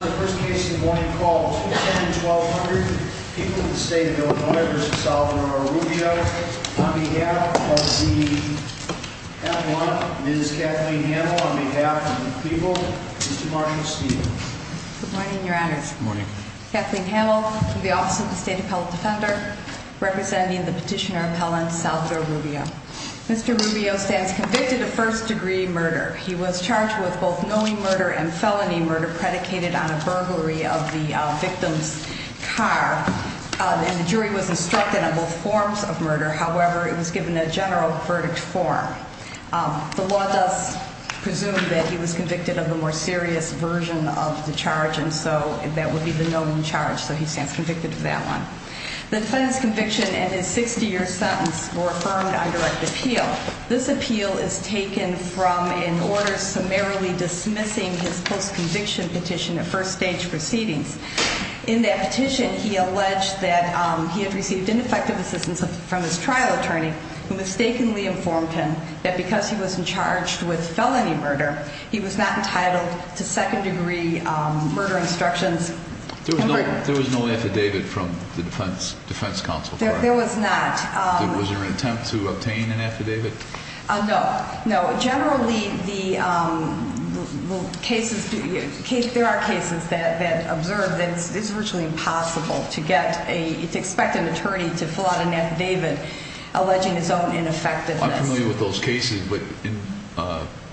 The first case in the morning called 210-1200. People of the State of Illinois v. Salvador Rubio. On behalf of the appellant, Ms. Kathleen Hamel. On behalf of the people, Mr. Marshall Steele. Good morning, Your Honor. Good morning. Kathleen Hamel from the Office of the State Appellant Defender, representing the petitioner appellant, Salvador Rubio. Mr. Rubio stands convicted of first degree murder. He was charged with both knowing murder and felony murder predicated on a burglary of the victim's car. And the jury was instructed on both forms of murder. However, it was given a general verdict form. The law does presume that he was convicted of the more serious version of the charge, and so that would be the known charge. So he stands convicted of that one. The defendant's conviction and his 60-year sentence were affirmed on direct appeal. This appeal is taken from an order summarily dismissing his post-conviction petition at first stage proceedings. In that petition, he alleged that he had received ineffective assistance from his trial attorney, who mistakenly informed him that because he was charged with felony murder, he was not entitled to second degree murder instructions. There was no affidavit from the defense counsel. There was not. Was there an attempt to obtain an affidavit? No. Generally, there are cases that observe that it's virtually impossible to expect an attorney to fill out an affidavit alleging his own ineffectiveness. I'm familiar with those cases, but in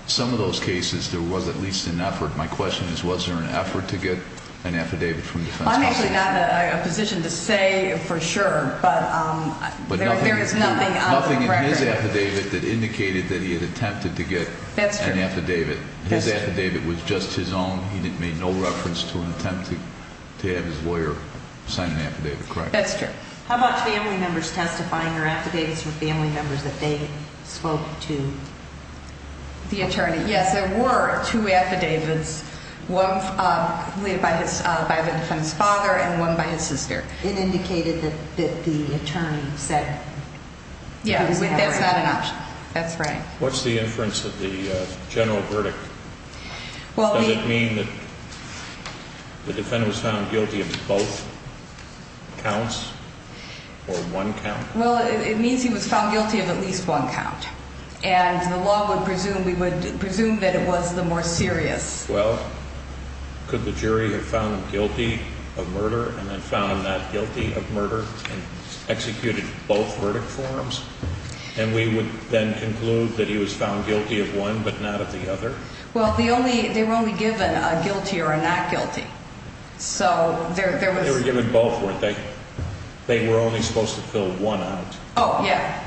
some of those cases, there was at least an effort. My question is, was there an effort to get an affidavit from the defense counsel? I'm actually not in a position to say for sure, but there is nothing on record. But nothing in his affidavit that indicated that he had attempted to get an affidavit. That's true. His affidavit was just his own. He made no reference to an attempt to have his lawyer sign an affidavit, correct? That's true. How about family members testifying or affidavits from family members that they spoke to the attorney? Yes, there were two affidavits, one by the defendant's father and one by his sister. It indicated that the attorney said that he was not eligible. Yes, that's not an option. That's right. What's the inference of the general verdict? Does it mean that the defendant was found guilty of both counts or one count? Well, it means he was found guilty of at least one count, and the law would presume that it was the more serious. Well, could the jury have found him guilty of murder and then found him not guilty of murder and executed both verdict forms? And we would then conclude that he was found guilty of one but not of the other? Well, they were only given a guilty or a not guilty. They were given both, weren't they? They were only supposed to fill one out. Oh, yeah.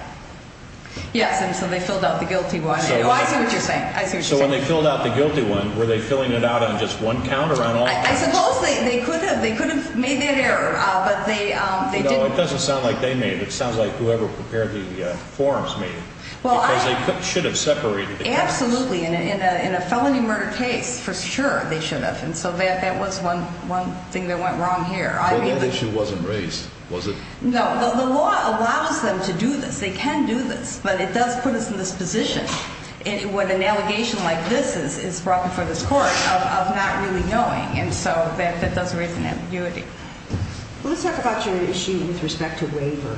Yes, and so they filled out the guilty one. I see what you're saying. So when they filled out the guilty one, were they filling it out on just one count or on all counts? I suppose they could have. They could have made that error, but they didn't. Well, it doesn't sound like they made it. It sounds like whoever prepared the forms made it because they should have separated the counts. Absolutely. In a felony murder case, for sure they should have, and so that was one thing that went wrong here. Well, that issue wasn't raised, was it? No. The law allows them to do this. They can do this, but it does put us in this position when an allegation like this is brought before this court of not really knowing, and so that does raise an ambiguity. Well, let's talk about your issue with respect to waiver.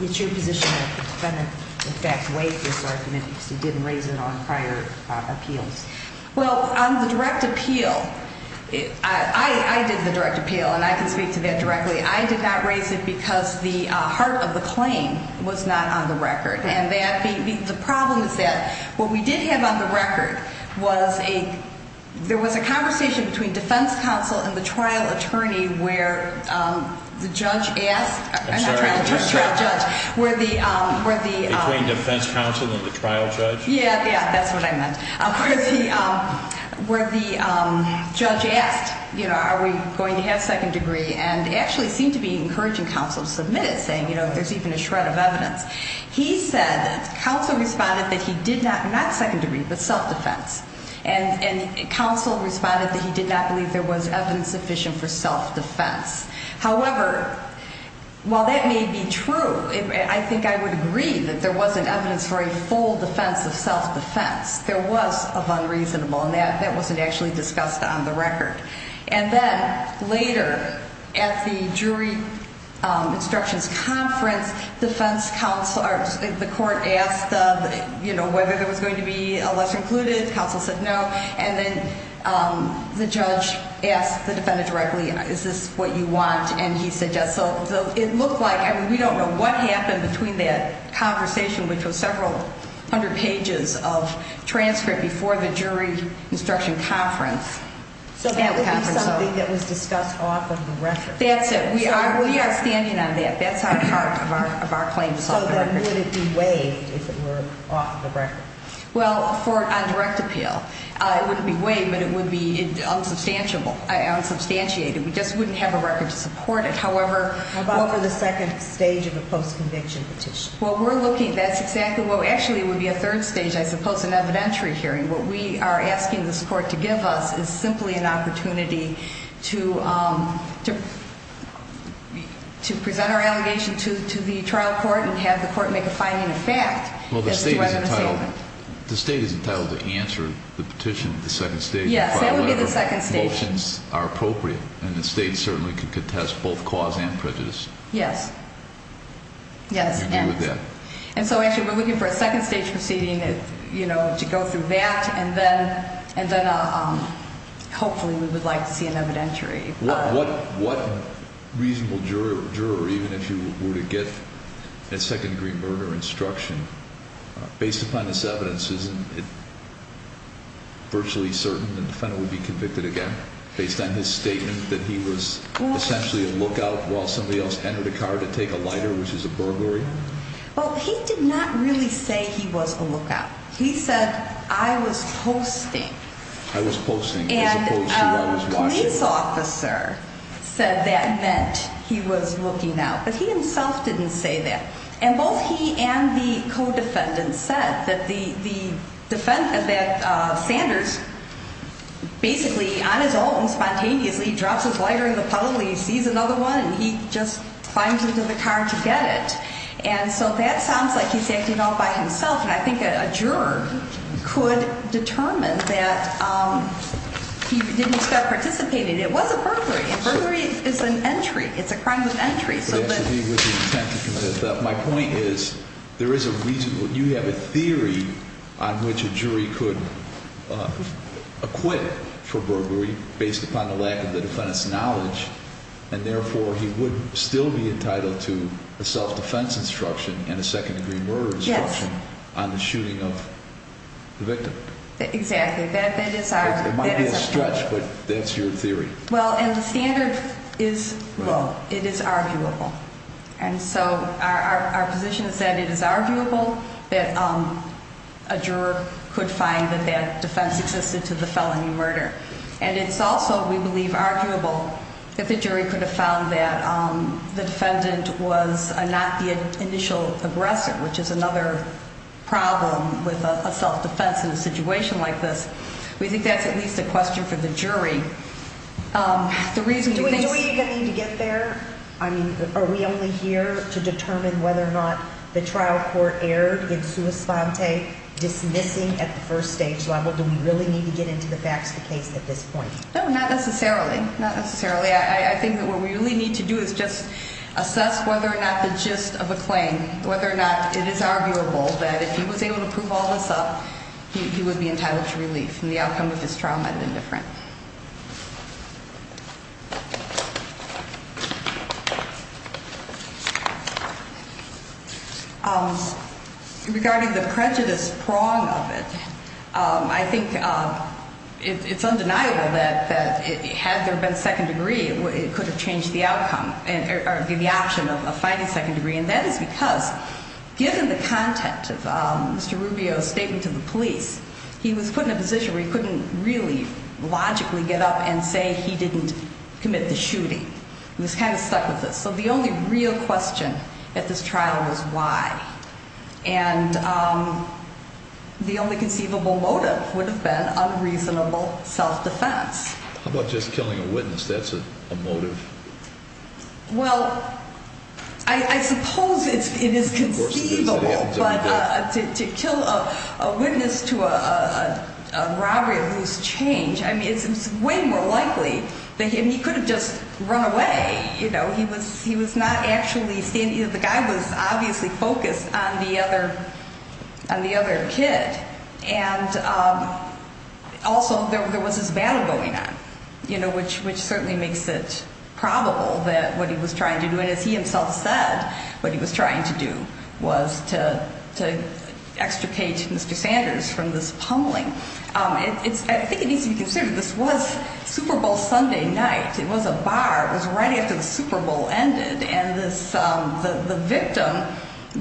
It's your position that the defendant, in fact, waived this argument because he didn't raise it on prior appeals. Well, on the direct appeal, I did the direct appeal, and I can speak to that directly. I did not raise it because the heart of the claim was not on the record. The problem is that what we did have on the record was there was a conversation between defense counsel and the trial attorney where the judge asked. I'm sorry. I'm not trying to judge. Between defense counsel and the trial judge? Yeah, yeah, that's what I meant. Where the judge asked, you know, are we going to have second degree, and it actually seemed to be encouraging counsel to submit it saying, you know, there's even a shred of evidence. He said that counsel responded that he did not, not second degree, but self-defense, and counsel responded that he did not believe there was evidence sufficient for self-defense. However, while that may be true, I think I would agree that there wasn't evidence for a full defense of self-defense. There was of unreasonable, and that wasn't actually discussed on the record. And then later at the jury instructions conference, defense counsel, the court asked, you know, whether there was going to be a lesser included. Counsel said no, and then the judge asked the defendant directly, is this what you want? And he said yes. So it looked like, I mean, we don't know what happened between that conversation, which was several hundred pages of transcript before the jury instruction conference. So that would be something that was discussed off of the record. That's it. We are standing on that. That's at heart of our claim to self-defense. So then would it be waived if it were off the record? Well, on direct appeal, it wouldn't be waived, but it would be unsubstantiated. We just wouldn't have a record to support it. How about for the second stage of a post-conviction petition? Well, we're looking, that's exactly, well, actually it would be a third stage, I suppose, an evidentiary hearing. What we are asking this court to give us is simply an opportunity to present our allegation to the trial court and have the court make a finding of fact. Well, the state is entitled to answer the petition at the second stage. Yes, that would be the second stage. Motions are appropriate, and the state certainly could contest both cause and prejudice. Yes. Yes. And agree with that. And so actually we're looking for a second stage proceeding to go through that, and then hopefully we would like to see an evidentiary. What reasonable juror, even if you were to get a second-degree murder instruction, based upon this evidence, isn't it virtually certain the defendant would be convicted again, based on his statement that he was essentially a lookout while somebody else entered a car to take a lighter, which is a burglary? Well, he did not really say he was a lookout. He said, I was posting. I was posting. And a police officer said that meant he was looking out. But he himself didn't say that. And both he and the co-defendant said that Sanders basically, on his own, spontaneously drops his lighter in the puddle, and he sees another one, and he just climbs into the car to get it. And so that sounds like he's acting all by himself, and I think a juror could determine that he didn't expect participating. It was a burglary, and burglary is an entry. It's a crime of entry. My point is, there is a reason. You have a theory on which a jury could acquit for burglary based upon the lack of the defendant's knowledge, and therefore he would still be entitled to a self-defense instruction and a second-degree murder instruction on the shooting of the victim. Exactly. It might be a stretch, but that's your theory. Well, and the standard is, well, it is arguable. And so our position is that it is arguable that a juror could find that that defense existed to the felony murder. And it's also, we believe, arguable that the jury could have found that the defendant was not the initial aggressor, which is another problem with a self-defense in a situation like this. We think that's at least a question for the jury. Do we even need to get there? I mean, are we only here to determine whether or not the trial court erred in sua sponte, dismissing at the first stage level? Do we really need to get into the facts of the case at this point? No, not necessarily. Not necessarily. I think that what we really need to do is just assess whether or not the gist of a claim, whether or not it is arguable that if he was able to prove all this up, he would be entitled to relief. And the outcome of this trial might have been different. Regarding the prejudice prong of it, I think it's undeniable that had there been a second degree, it could have changed the outcome or given the option of finding a second degree. And that is because given the content of Mr. Rubio's statement to the police, he was put in a position where he couldn't really logically get up and say he didn't commit the shooting. He was kind of stuck with this. So the only real question at this trial was why. And the only conceivable motive would have been unreasonable self-defense. How about just killing a witness? That's a motive. Well, I suppose it is conceivable, but to kill a witness to a robbery of loose change, I mean, it's way more likely. I mean, he could have just run away. You know, he was not actually standing. The guy was obviously focused on the other kid. And also there was this battle going on, you know, which certainly makes it probable that what he was trying to do, and as he himself said, what he was trying to do was to extricate Mr. Sanders from this pummeling. I think it needs to be considered this was Super Bowl Sunday night. It was a bar. It was right after the Super Bowl ended. And the victim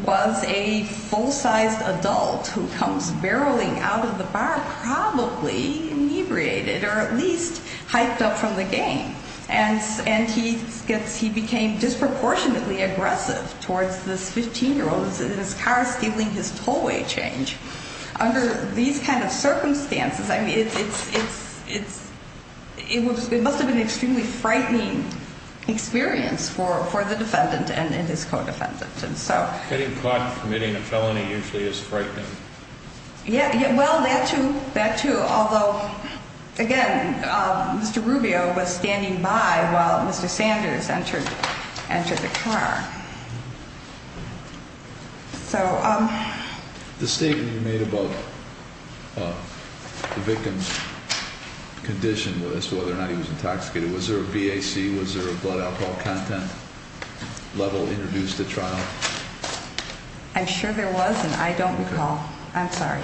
was a full-sized adult who comes barreling out of the bar probably inebriated or at least hyped up from the game. And he became disproportionately aggressive towards this 15-year-old in his car stealing his tollway change. Under these kind of circumstances, I mean, it must have been an extremely frightening experience for the defendant and his co-defendant. And so. Getting caught committing a felony usually is frightening. Yeah. Well, that, too. That, too. Although, again, Mr. Rubio was standing by while Mr. Sanders entered the car. So the statement you made about the victim's condition as to whether or not he was intoxicated, was there a BAC? Was there a blood alcohol content level introduced at trial? I'm sure there was. And I don't recall. I'm sorry.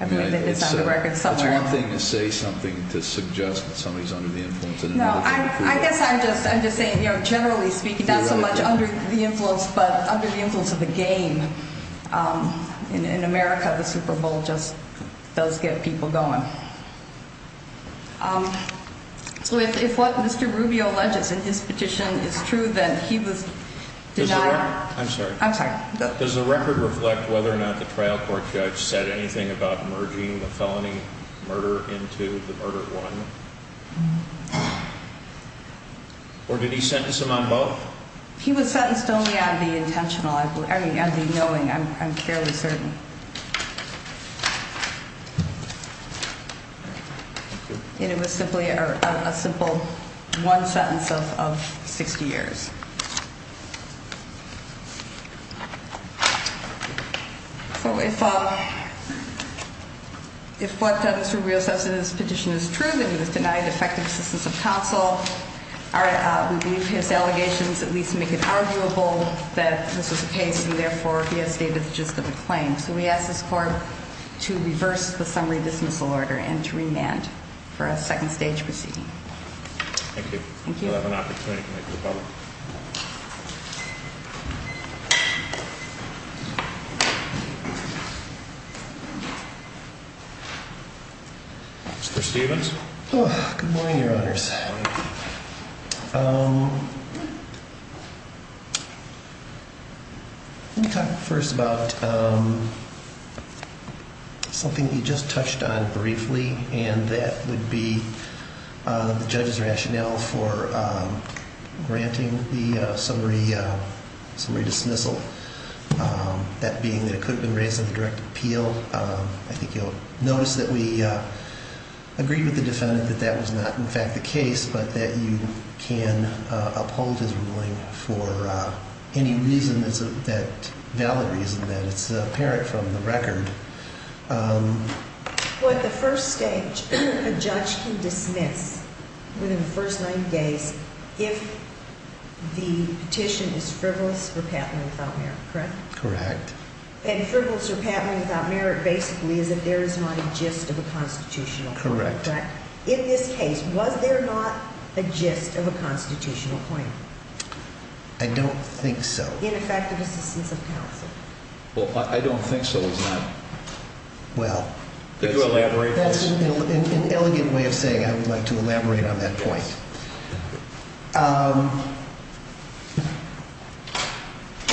I believe it is on the record somewhere. It's one thing to say something to suggest that somebody is under the influence. No, I guess I'm just saying, you know, generally speaking, not so much under the influence, but under the influence of the game. In America, the Super Bowl just does get people going. So if what Mr. Rubio alleges in his petition is true, then he was denied. I'm sorry. I'm sorry. Does the record reflect whether or not the trial court judge said anything about merging the felony murder into the murder one? Or did he sentence him on both? He was sentenced only on the knowing. I'm fairly certain. And it was simply a simple one sentence of 60 years. So if what Mr. Rubio says in his petition is true, that he was denied effective assistance of counsel, we believe his allegations at least make it arguable that this was the case and, therefore, he has stated the justice of the claim. So we ask this court to reverse the summary dismissal order and to remand for a second stage proceeding. Thank you. Thank you. Mr. Stephens. Good morning, Your Honors. Let me talk first about something you just touched on briefly, and that would be the judge's rationale for granting the summary dismissal. That being that it could have been raised in the direct appeal, I think you'll notice that we agreed with the defendant that that was not, in fact, the case, but that you can uphold his ruling for any reason that's a valid reason, that it's apparent from the record. Well, at the first stage, a judge can dismiss, within the first nine days, if the petition is frivolous or patently without merit, correct? Correct. And frivolous or patently without merit basically is that there is not a gist of a constitutional claim, correct? Correct. In this case, was there not a gist of a constitutional claim? I don't think so. In effective assistance of counsel. Well, I don't think so, is there? Well, that's an elegant way of saying I would like to elaborate on that point.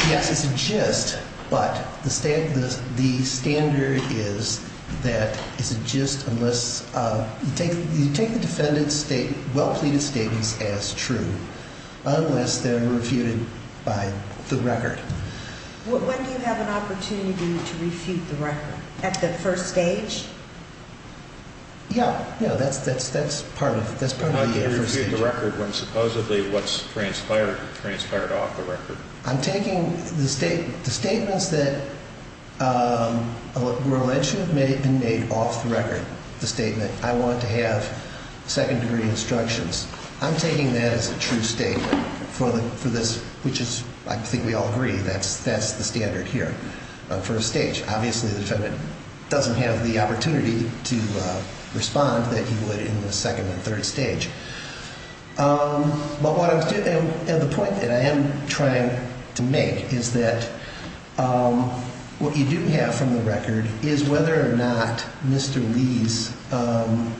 Yes, it's a gist, but the standard is that it's a gist unless you take the defendant's well-pleaded statements as true, unless they're refuted by the record. When do you have an opportunity to refute the record? At the first stage? Yeah, that's part of the first stage. When do you refute the record when supposedly what's transpired, transpired off the record? I'm taking the statements that were alleged to have been made off the record, the statement, I want to have second-degree instructions. I'm taking that as a true statement for this, which is, I think we all agree, that's the standard here, first stage. Obviously, the defendant doesn't have the opportunity to respond that he would in the second and third stage. But the point that I am trying to make is that what you do have from the record is whether or not Mr. Lee's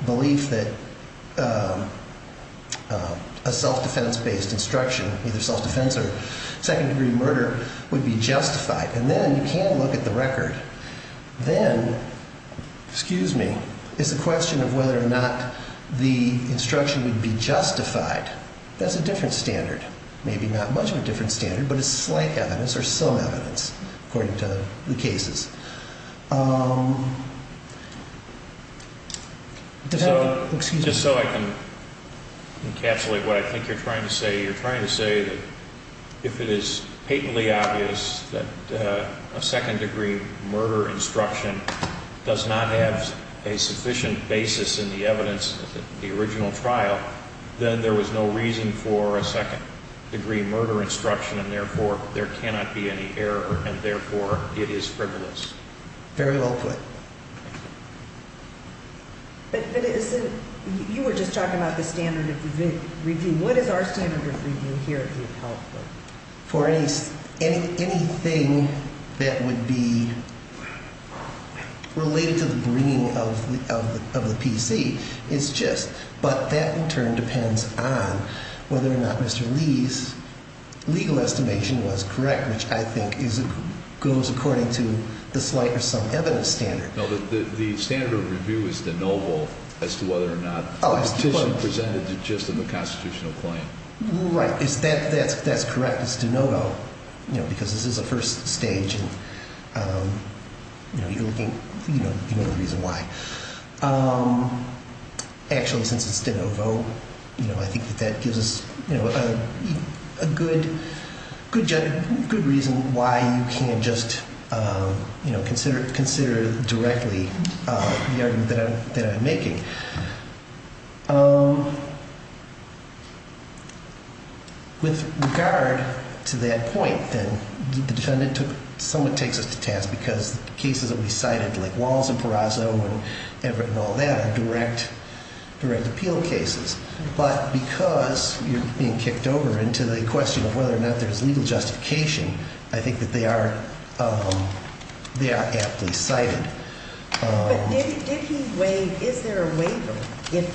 belief that a self-defense-based instruction, either self-defense or second-degree murder, would be justified. And then you can look at the record. Then, excuse me, it's a question of whether or not the instruction would be justified. That's a different standard, maybe not much of a different standard, but it's slight evidence or some evidence, according to the cases. Just so I can encapsulate what I think you're trying to say, you're trying to say that if it is patently obvious that a second-degree murder instruction does not have a sufficient basis in the evidence of the original trial, then there was no reason for a second-degree murder instruction, and therefore, there cannot be any error, and therefore, it is frivolous. Very well put. But you were just talking about the standard of review. What is our standard of review here, if you would help me? For anything that would be related to the bringing of the PC, it's just, but that, in turn, depends on whether or not Mr. Lee's legal estimation was correct, which I think goes according to the slight or some evidence standard. No, the standard of review is de novo as to whether or not the petition presented is just of a constitutional claim. Right. That's correct. It's de novo, because this is a first stage, and you know the reason why. Actually, since it's de novo, I think that that gives us a good reason why you can't just consider directly the argument that I'm making. With regard to that point, then, the defendant somewhat takes us to task, because the cases that we cited, like Walls and Perazzo and all that, are direct appeal cases. But because you're being kicked over into the question of whether or not there's legal justification, I think that they are aptly cited. But did he waive, is there a waiver if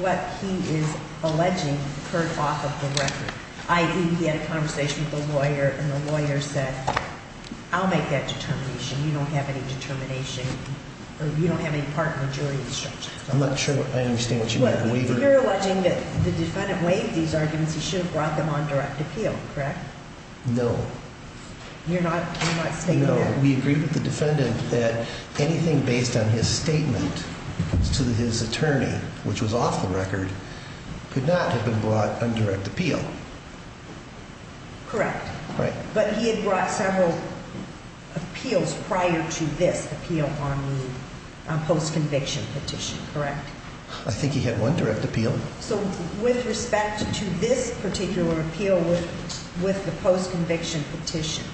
what he is alleging occurred off of the record? I.e., he had a conversation with the lawyer, and the lawyer said, I'll make that determination. You don't have any determination, or you don't have any part in the jury instruction. I'm not sure I understand what you mean by the waiver. You're alleging that the defendant waived these arguments. He should have brought them on direct appeal, correct? No. You're not stating that? We agreed with the defendant that anything based on his statement to his attorney, which was off the record, could not have been brought on direct appeal. Correct. Right. But he had brought several appeals prior to this appeal on the post-conviction petition, correct? I think he had one direct appeal. So with respect to this particular appeal with the post-conviction petition,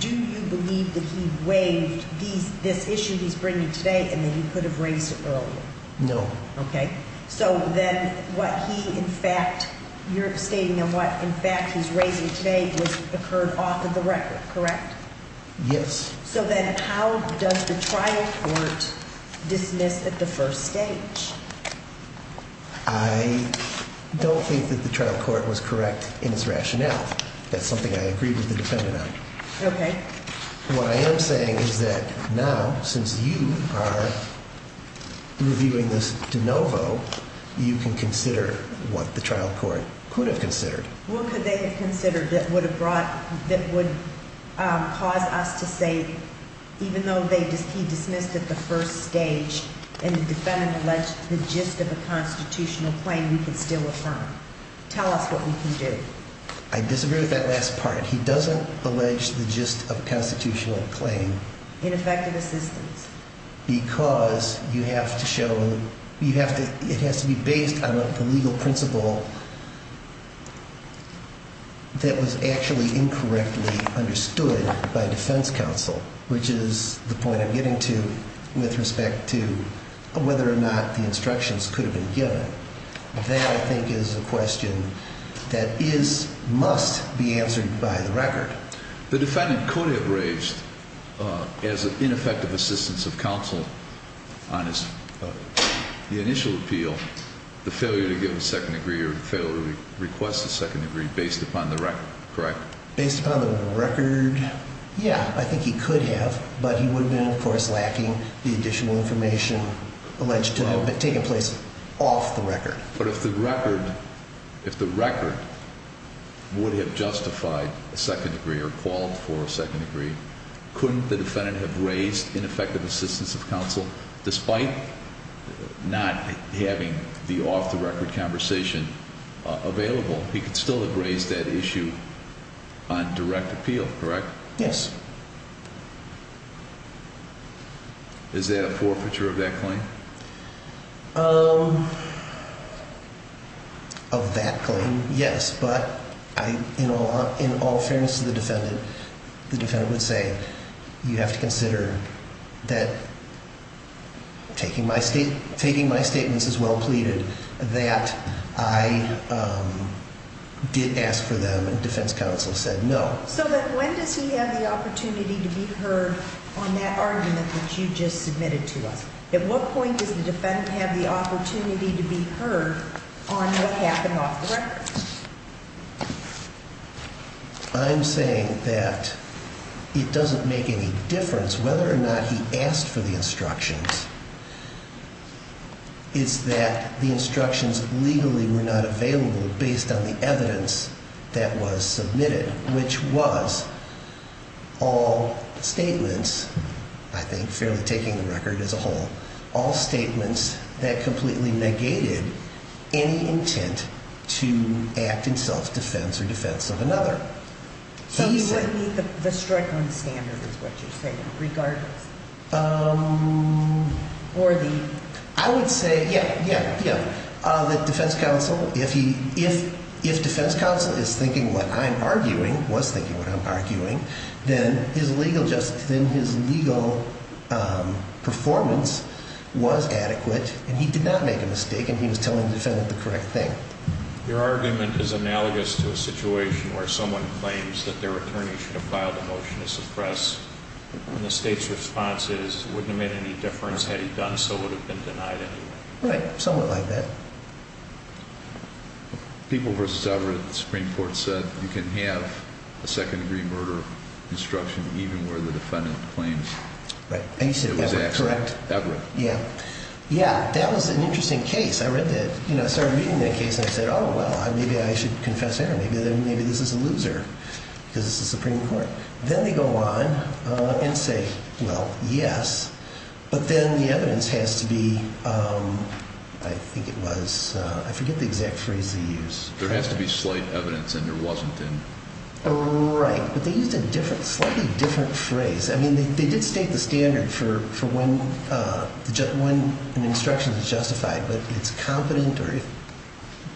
do you believe that he waived this issue he's bringing today and that he could have raised it earlier? No. Okay. So then what he in fact, you're stating that what in fact he's raising today occurred off of the record, correct? Yes. So then how does the trial court dismiss at the first stage? I don't think that the trial court was correct in its rationale. That's something I agreed with the defendant on. Okay. What I am saying is that now, since you are reviewing this de novo, you can consider what the trial court could have considered. What could they have considered that would cause us to say, even though he dismissed at the first stage and the defendant alleged the gist of a constitutional claim, we could still affirm? Tell us what we can do. I disagree with that last part. He doesn't allege the gist of a constitutional claim. In effective assistance. Because you have to show, it has to be based on the legal principle that was actually incorrectly understood by defense counsel, which is the point I'm getting to with respect to whether or not the instructions could have been given. That I think is a question that is, must be answered by the record. The defendant could have raised, as an ineffective assistance of counsel on the initial appeal, the failure to give a second degree or the failure to request a second degree based upon the record, correct? Based upon the record, yeah, I think he could have, but he would have been, of course, lacking the additional information alleged to have taken place off the record. But if the record, if the record would have justified a second degree or called for a second degree, couldn't the defendant have raised ineffective assistance of counsel despite not having the off the record conversation available? He could still have raised that issue on direct appeal, correct? Yes. Is that a forfeiture of that claim? Of that claim, yes, but in all fairness to the defendant, the defendant would say, you have to consider that taking my statements as well pleaded that I did ask for them and defense counsel said no. So then when does he have the opportunity to be heard on that argument that you just submitted to us? At what point does the defendant have the opportunity to be heard on what happened off the record? I'm saying that it doesn't make any difference whether or not he asked for the instructions. What I'm saying is that the instructions legally were not available based on the evidence that was submitted, which was all statements, I think fairly taking the record as a whole, all statements that completely negated any intent to act in self-defense or defense of another. So you wouldn't need the strike on standard is what you're saying, regardless? I would say, yeah, yeah, yeah, that defense counsel, if defense counsel is thinking what I'm arguing, was thinking what I'm arguing, then his legal performance was adequate and he did not make a mistake and he was telling the defendant the correct thing. Your argument is analogous to a situation where someone claims that their attorney should have filed a motion to suppress and the state's response is wouldn't have made any difference had he done so would have been denied anyway. Right, somewhat like that. People versus Everett, the Supreme Court said you can have a second degree murder instruction even where the defendant claims it was accident. Everett. Yeah, yeah, that was an interesting case. I started reading that case and I said, oh, well, maybe I should confess error. Maybe this is a loser because this is the Supreme Court. Then they go on and say, well, yes, but then the evidence has to be, I think it was, I forget the exact phrase they used. There has to be slight evidence and there wasn't. Right, but they used a slightly different phrase. I mean, they did state the standard for when an instruction is justified, but it's competent or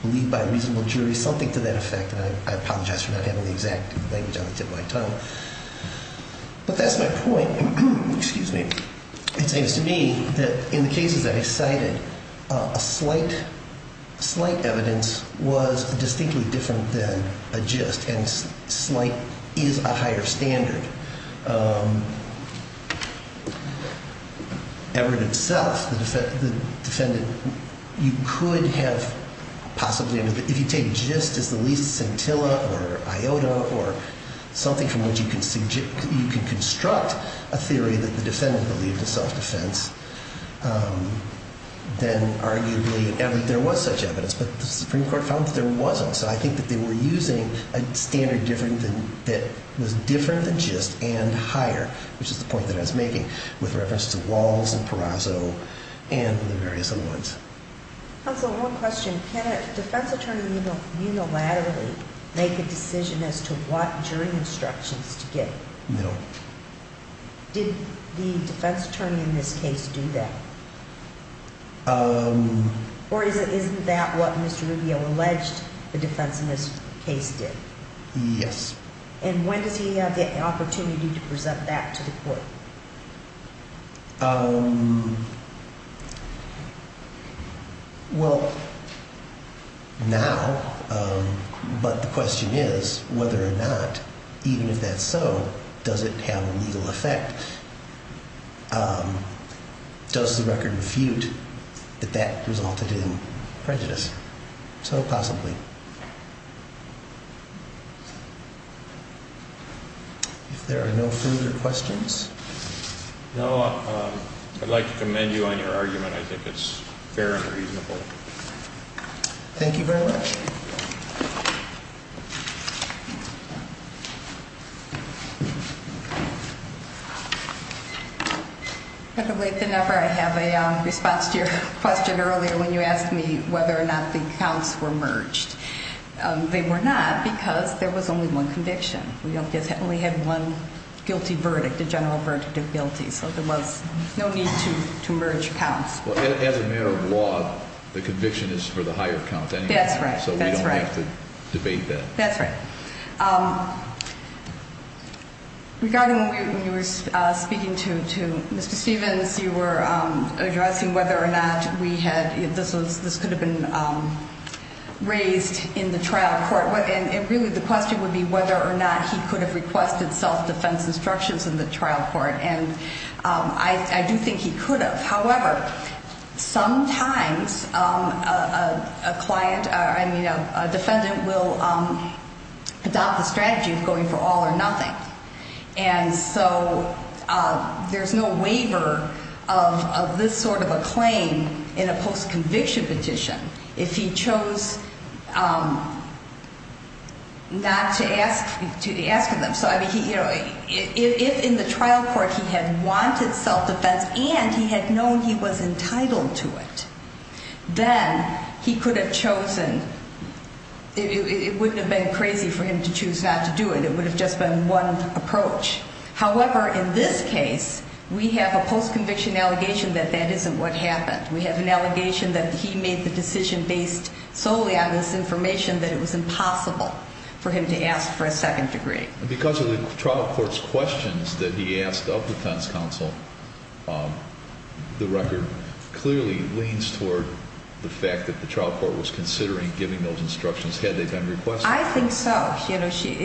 believed by a reasonable jury, something to that effect. I apologize for not having the exact language on the tip of my tongue, but that's my point. Excuse me. It seems to me that in the cases that I cited, a slight evidence was distinctly different than a gist and slight is a higher standard. Everett itself, the defendant, you could have possibly, if you take gist as the least scintilla or iota or something from which you can construct a theory that the defendant believed a self-defense, then arguably there was such evidence, but the Supreme Court found that there wasn't. So I think that they were using a standard that was different than gist and higher, which is the point that I was making with reference to Walls and Perazzo and the various other ones. Counsel, one question. Can a defense attorney unilaterally make a decision as to what jury instructions to give? No. Did the defense attorney in this case do that? Or is that what Mr. Rubio alleged the defense in this case did? Yes. And when does he have the opportunity to present that to the court? Well, now, but the question is whether or not, even if that's so, does it have a legal effect? Does the record refute that that resulted in prejudice? So possibly. If there are no further questions. No, I'd like to commend you on your argument. I think it's fair and reasonable. Thank you very much. I have a response to your question earlier when you asked me whether or not the counts were merged. They were not because there was only one conviction. We only had one guilty verdict, a general verdict of guilty. So there was no need to merge counts. As a matter of law, the conviction is for the higher count anyway. That's right. So we don't have to debate that. That's right. Regarding when you were speaking to Mr. Stevens, you were addressing whether or not this could have been raised in the trial court. And really the question would be whether or not he could have requested self-defense instructions in the trial court. And I do think he could have. However, sometimes a client or, I mean, a defendant will adopt the strategy of going for all or nothing. And so there's no waiver of this sort of a claim in a post-conviction petition if he chose not to ask them. If in the trial court he had wanted self-defense and he had known he was entitled to it, then he could have chosen. It wouldn't have been crazy for him to choose not to do it. It would have just been one approach. However, in this case, we have a post-conviction allegation that that isn't what happened. We have an allegation that he made the decision based solely on this information that it was impossible for him to ask for a second degree. And because of the trial court's questions that he asked of defense counsel, the record clearly leans toward the fact that the trial court was considering giving those instructions had they been requested. I think so. She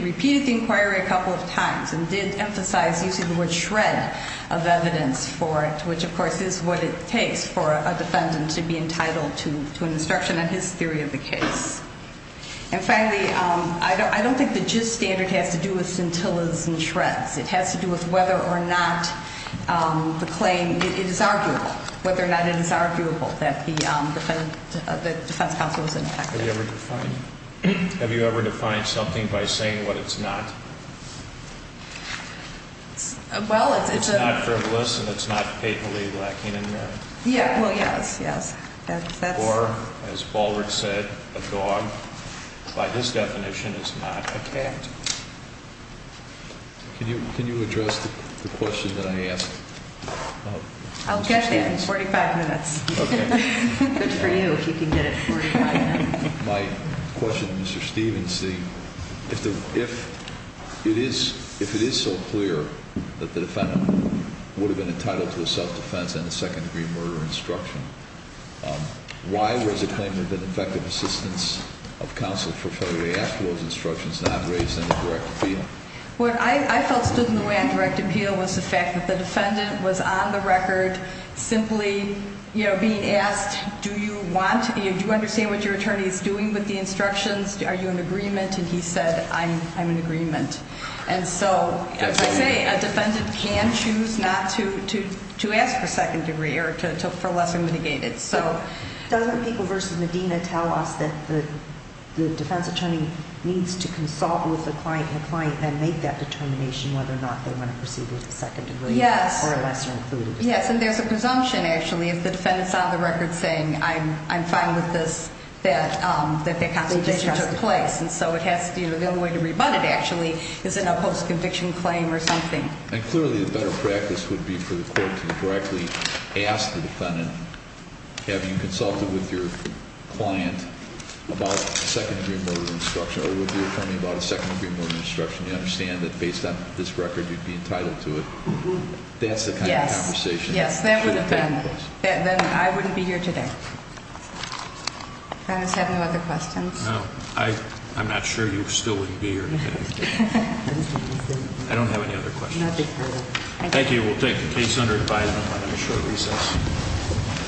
repeated the inquiry a couple of times and did emphasize using the word shred of evidence for it, which, of course, is what it takes for a defendant to be entitled to an instruction on his theory of the case. And finally, I don't think the gist standard has to do with scintillas and shreds. It has to do with whether or not the claim is arguable, whether or not it is arguable that the defense counsel was impacted. Have you ever defined something by saying what it's not? Well, it's not frivolous and it's not faithfully black-handed, Mary. Well, yes, yes. Or, as Ballard said, a dog, by this definition, is not a cat. Can you address the question that I asked? I'll get there in 45 minutes. Okay. Good for you if you can get it in 45 minutes. My question to Mr. Stevenson, if it is so clear that the defendant would have been entitled to a self-defense and a second-degree murder instruction, why was the claim that the effective assistance of counsel for failure to ask for those instructions not raised in the direct appeal? What I felt stood in the way on direct appeal was the fact that the defendant was on the record simply being asked, do you want, do you understand what your attorney is doing with the instructions? Are you in agreement? And he said, I'm in agreement. And so, as I say, a defendant can choose not to ask for second-degree or for lesser mitigated. Doesn't the People v. Medina tell us that the defense attorney needs to consult with the client and client and make that determination whether or not they want to proceed with the second degree or a lesser included? Yes. Yes, and there's a presumption, actually, if the defendant's on the record saying, I'm fine with this, that the consultation took place. And so it has to be the only way to rebut it, actually, is in a post-conviction claim or something. And clearly, a better practice would be for the court to directly ask the defendant, have you consulted with your client about a second-degree murder instruction, or would you tell me about a second-degree murder instruction? You understand that based on this record, you'd be entitled to it. That's the kind of conversation. Yes. Yes, then I wouldn't be here today. If I just have no other questions. No. I'm not sure you still wouldn't be here today. I don't have any other questions. Thank you. We'll take the case under advisement on a short recess.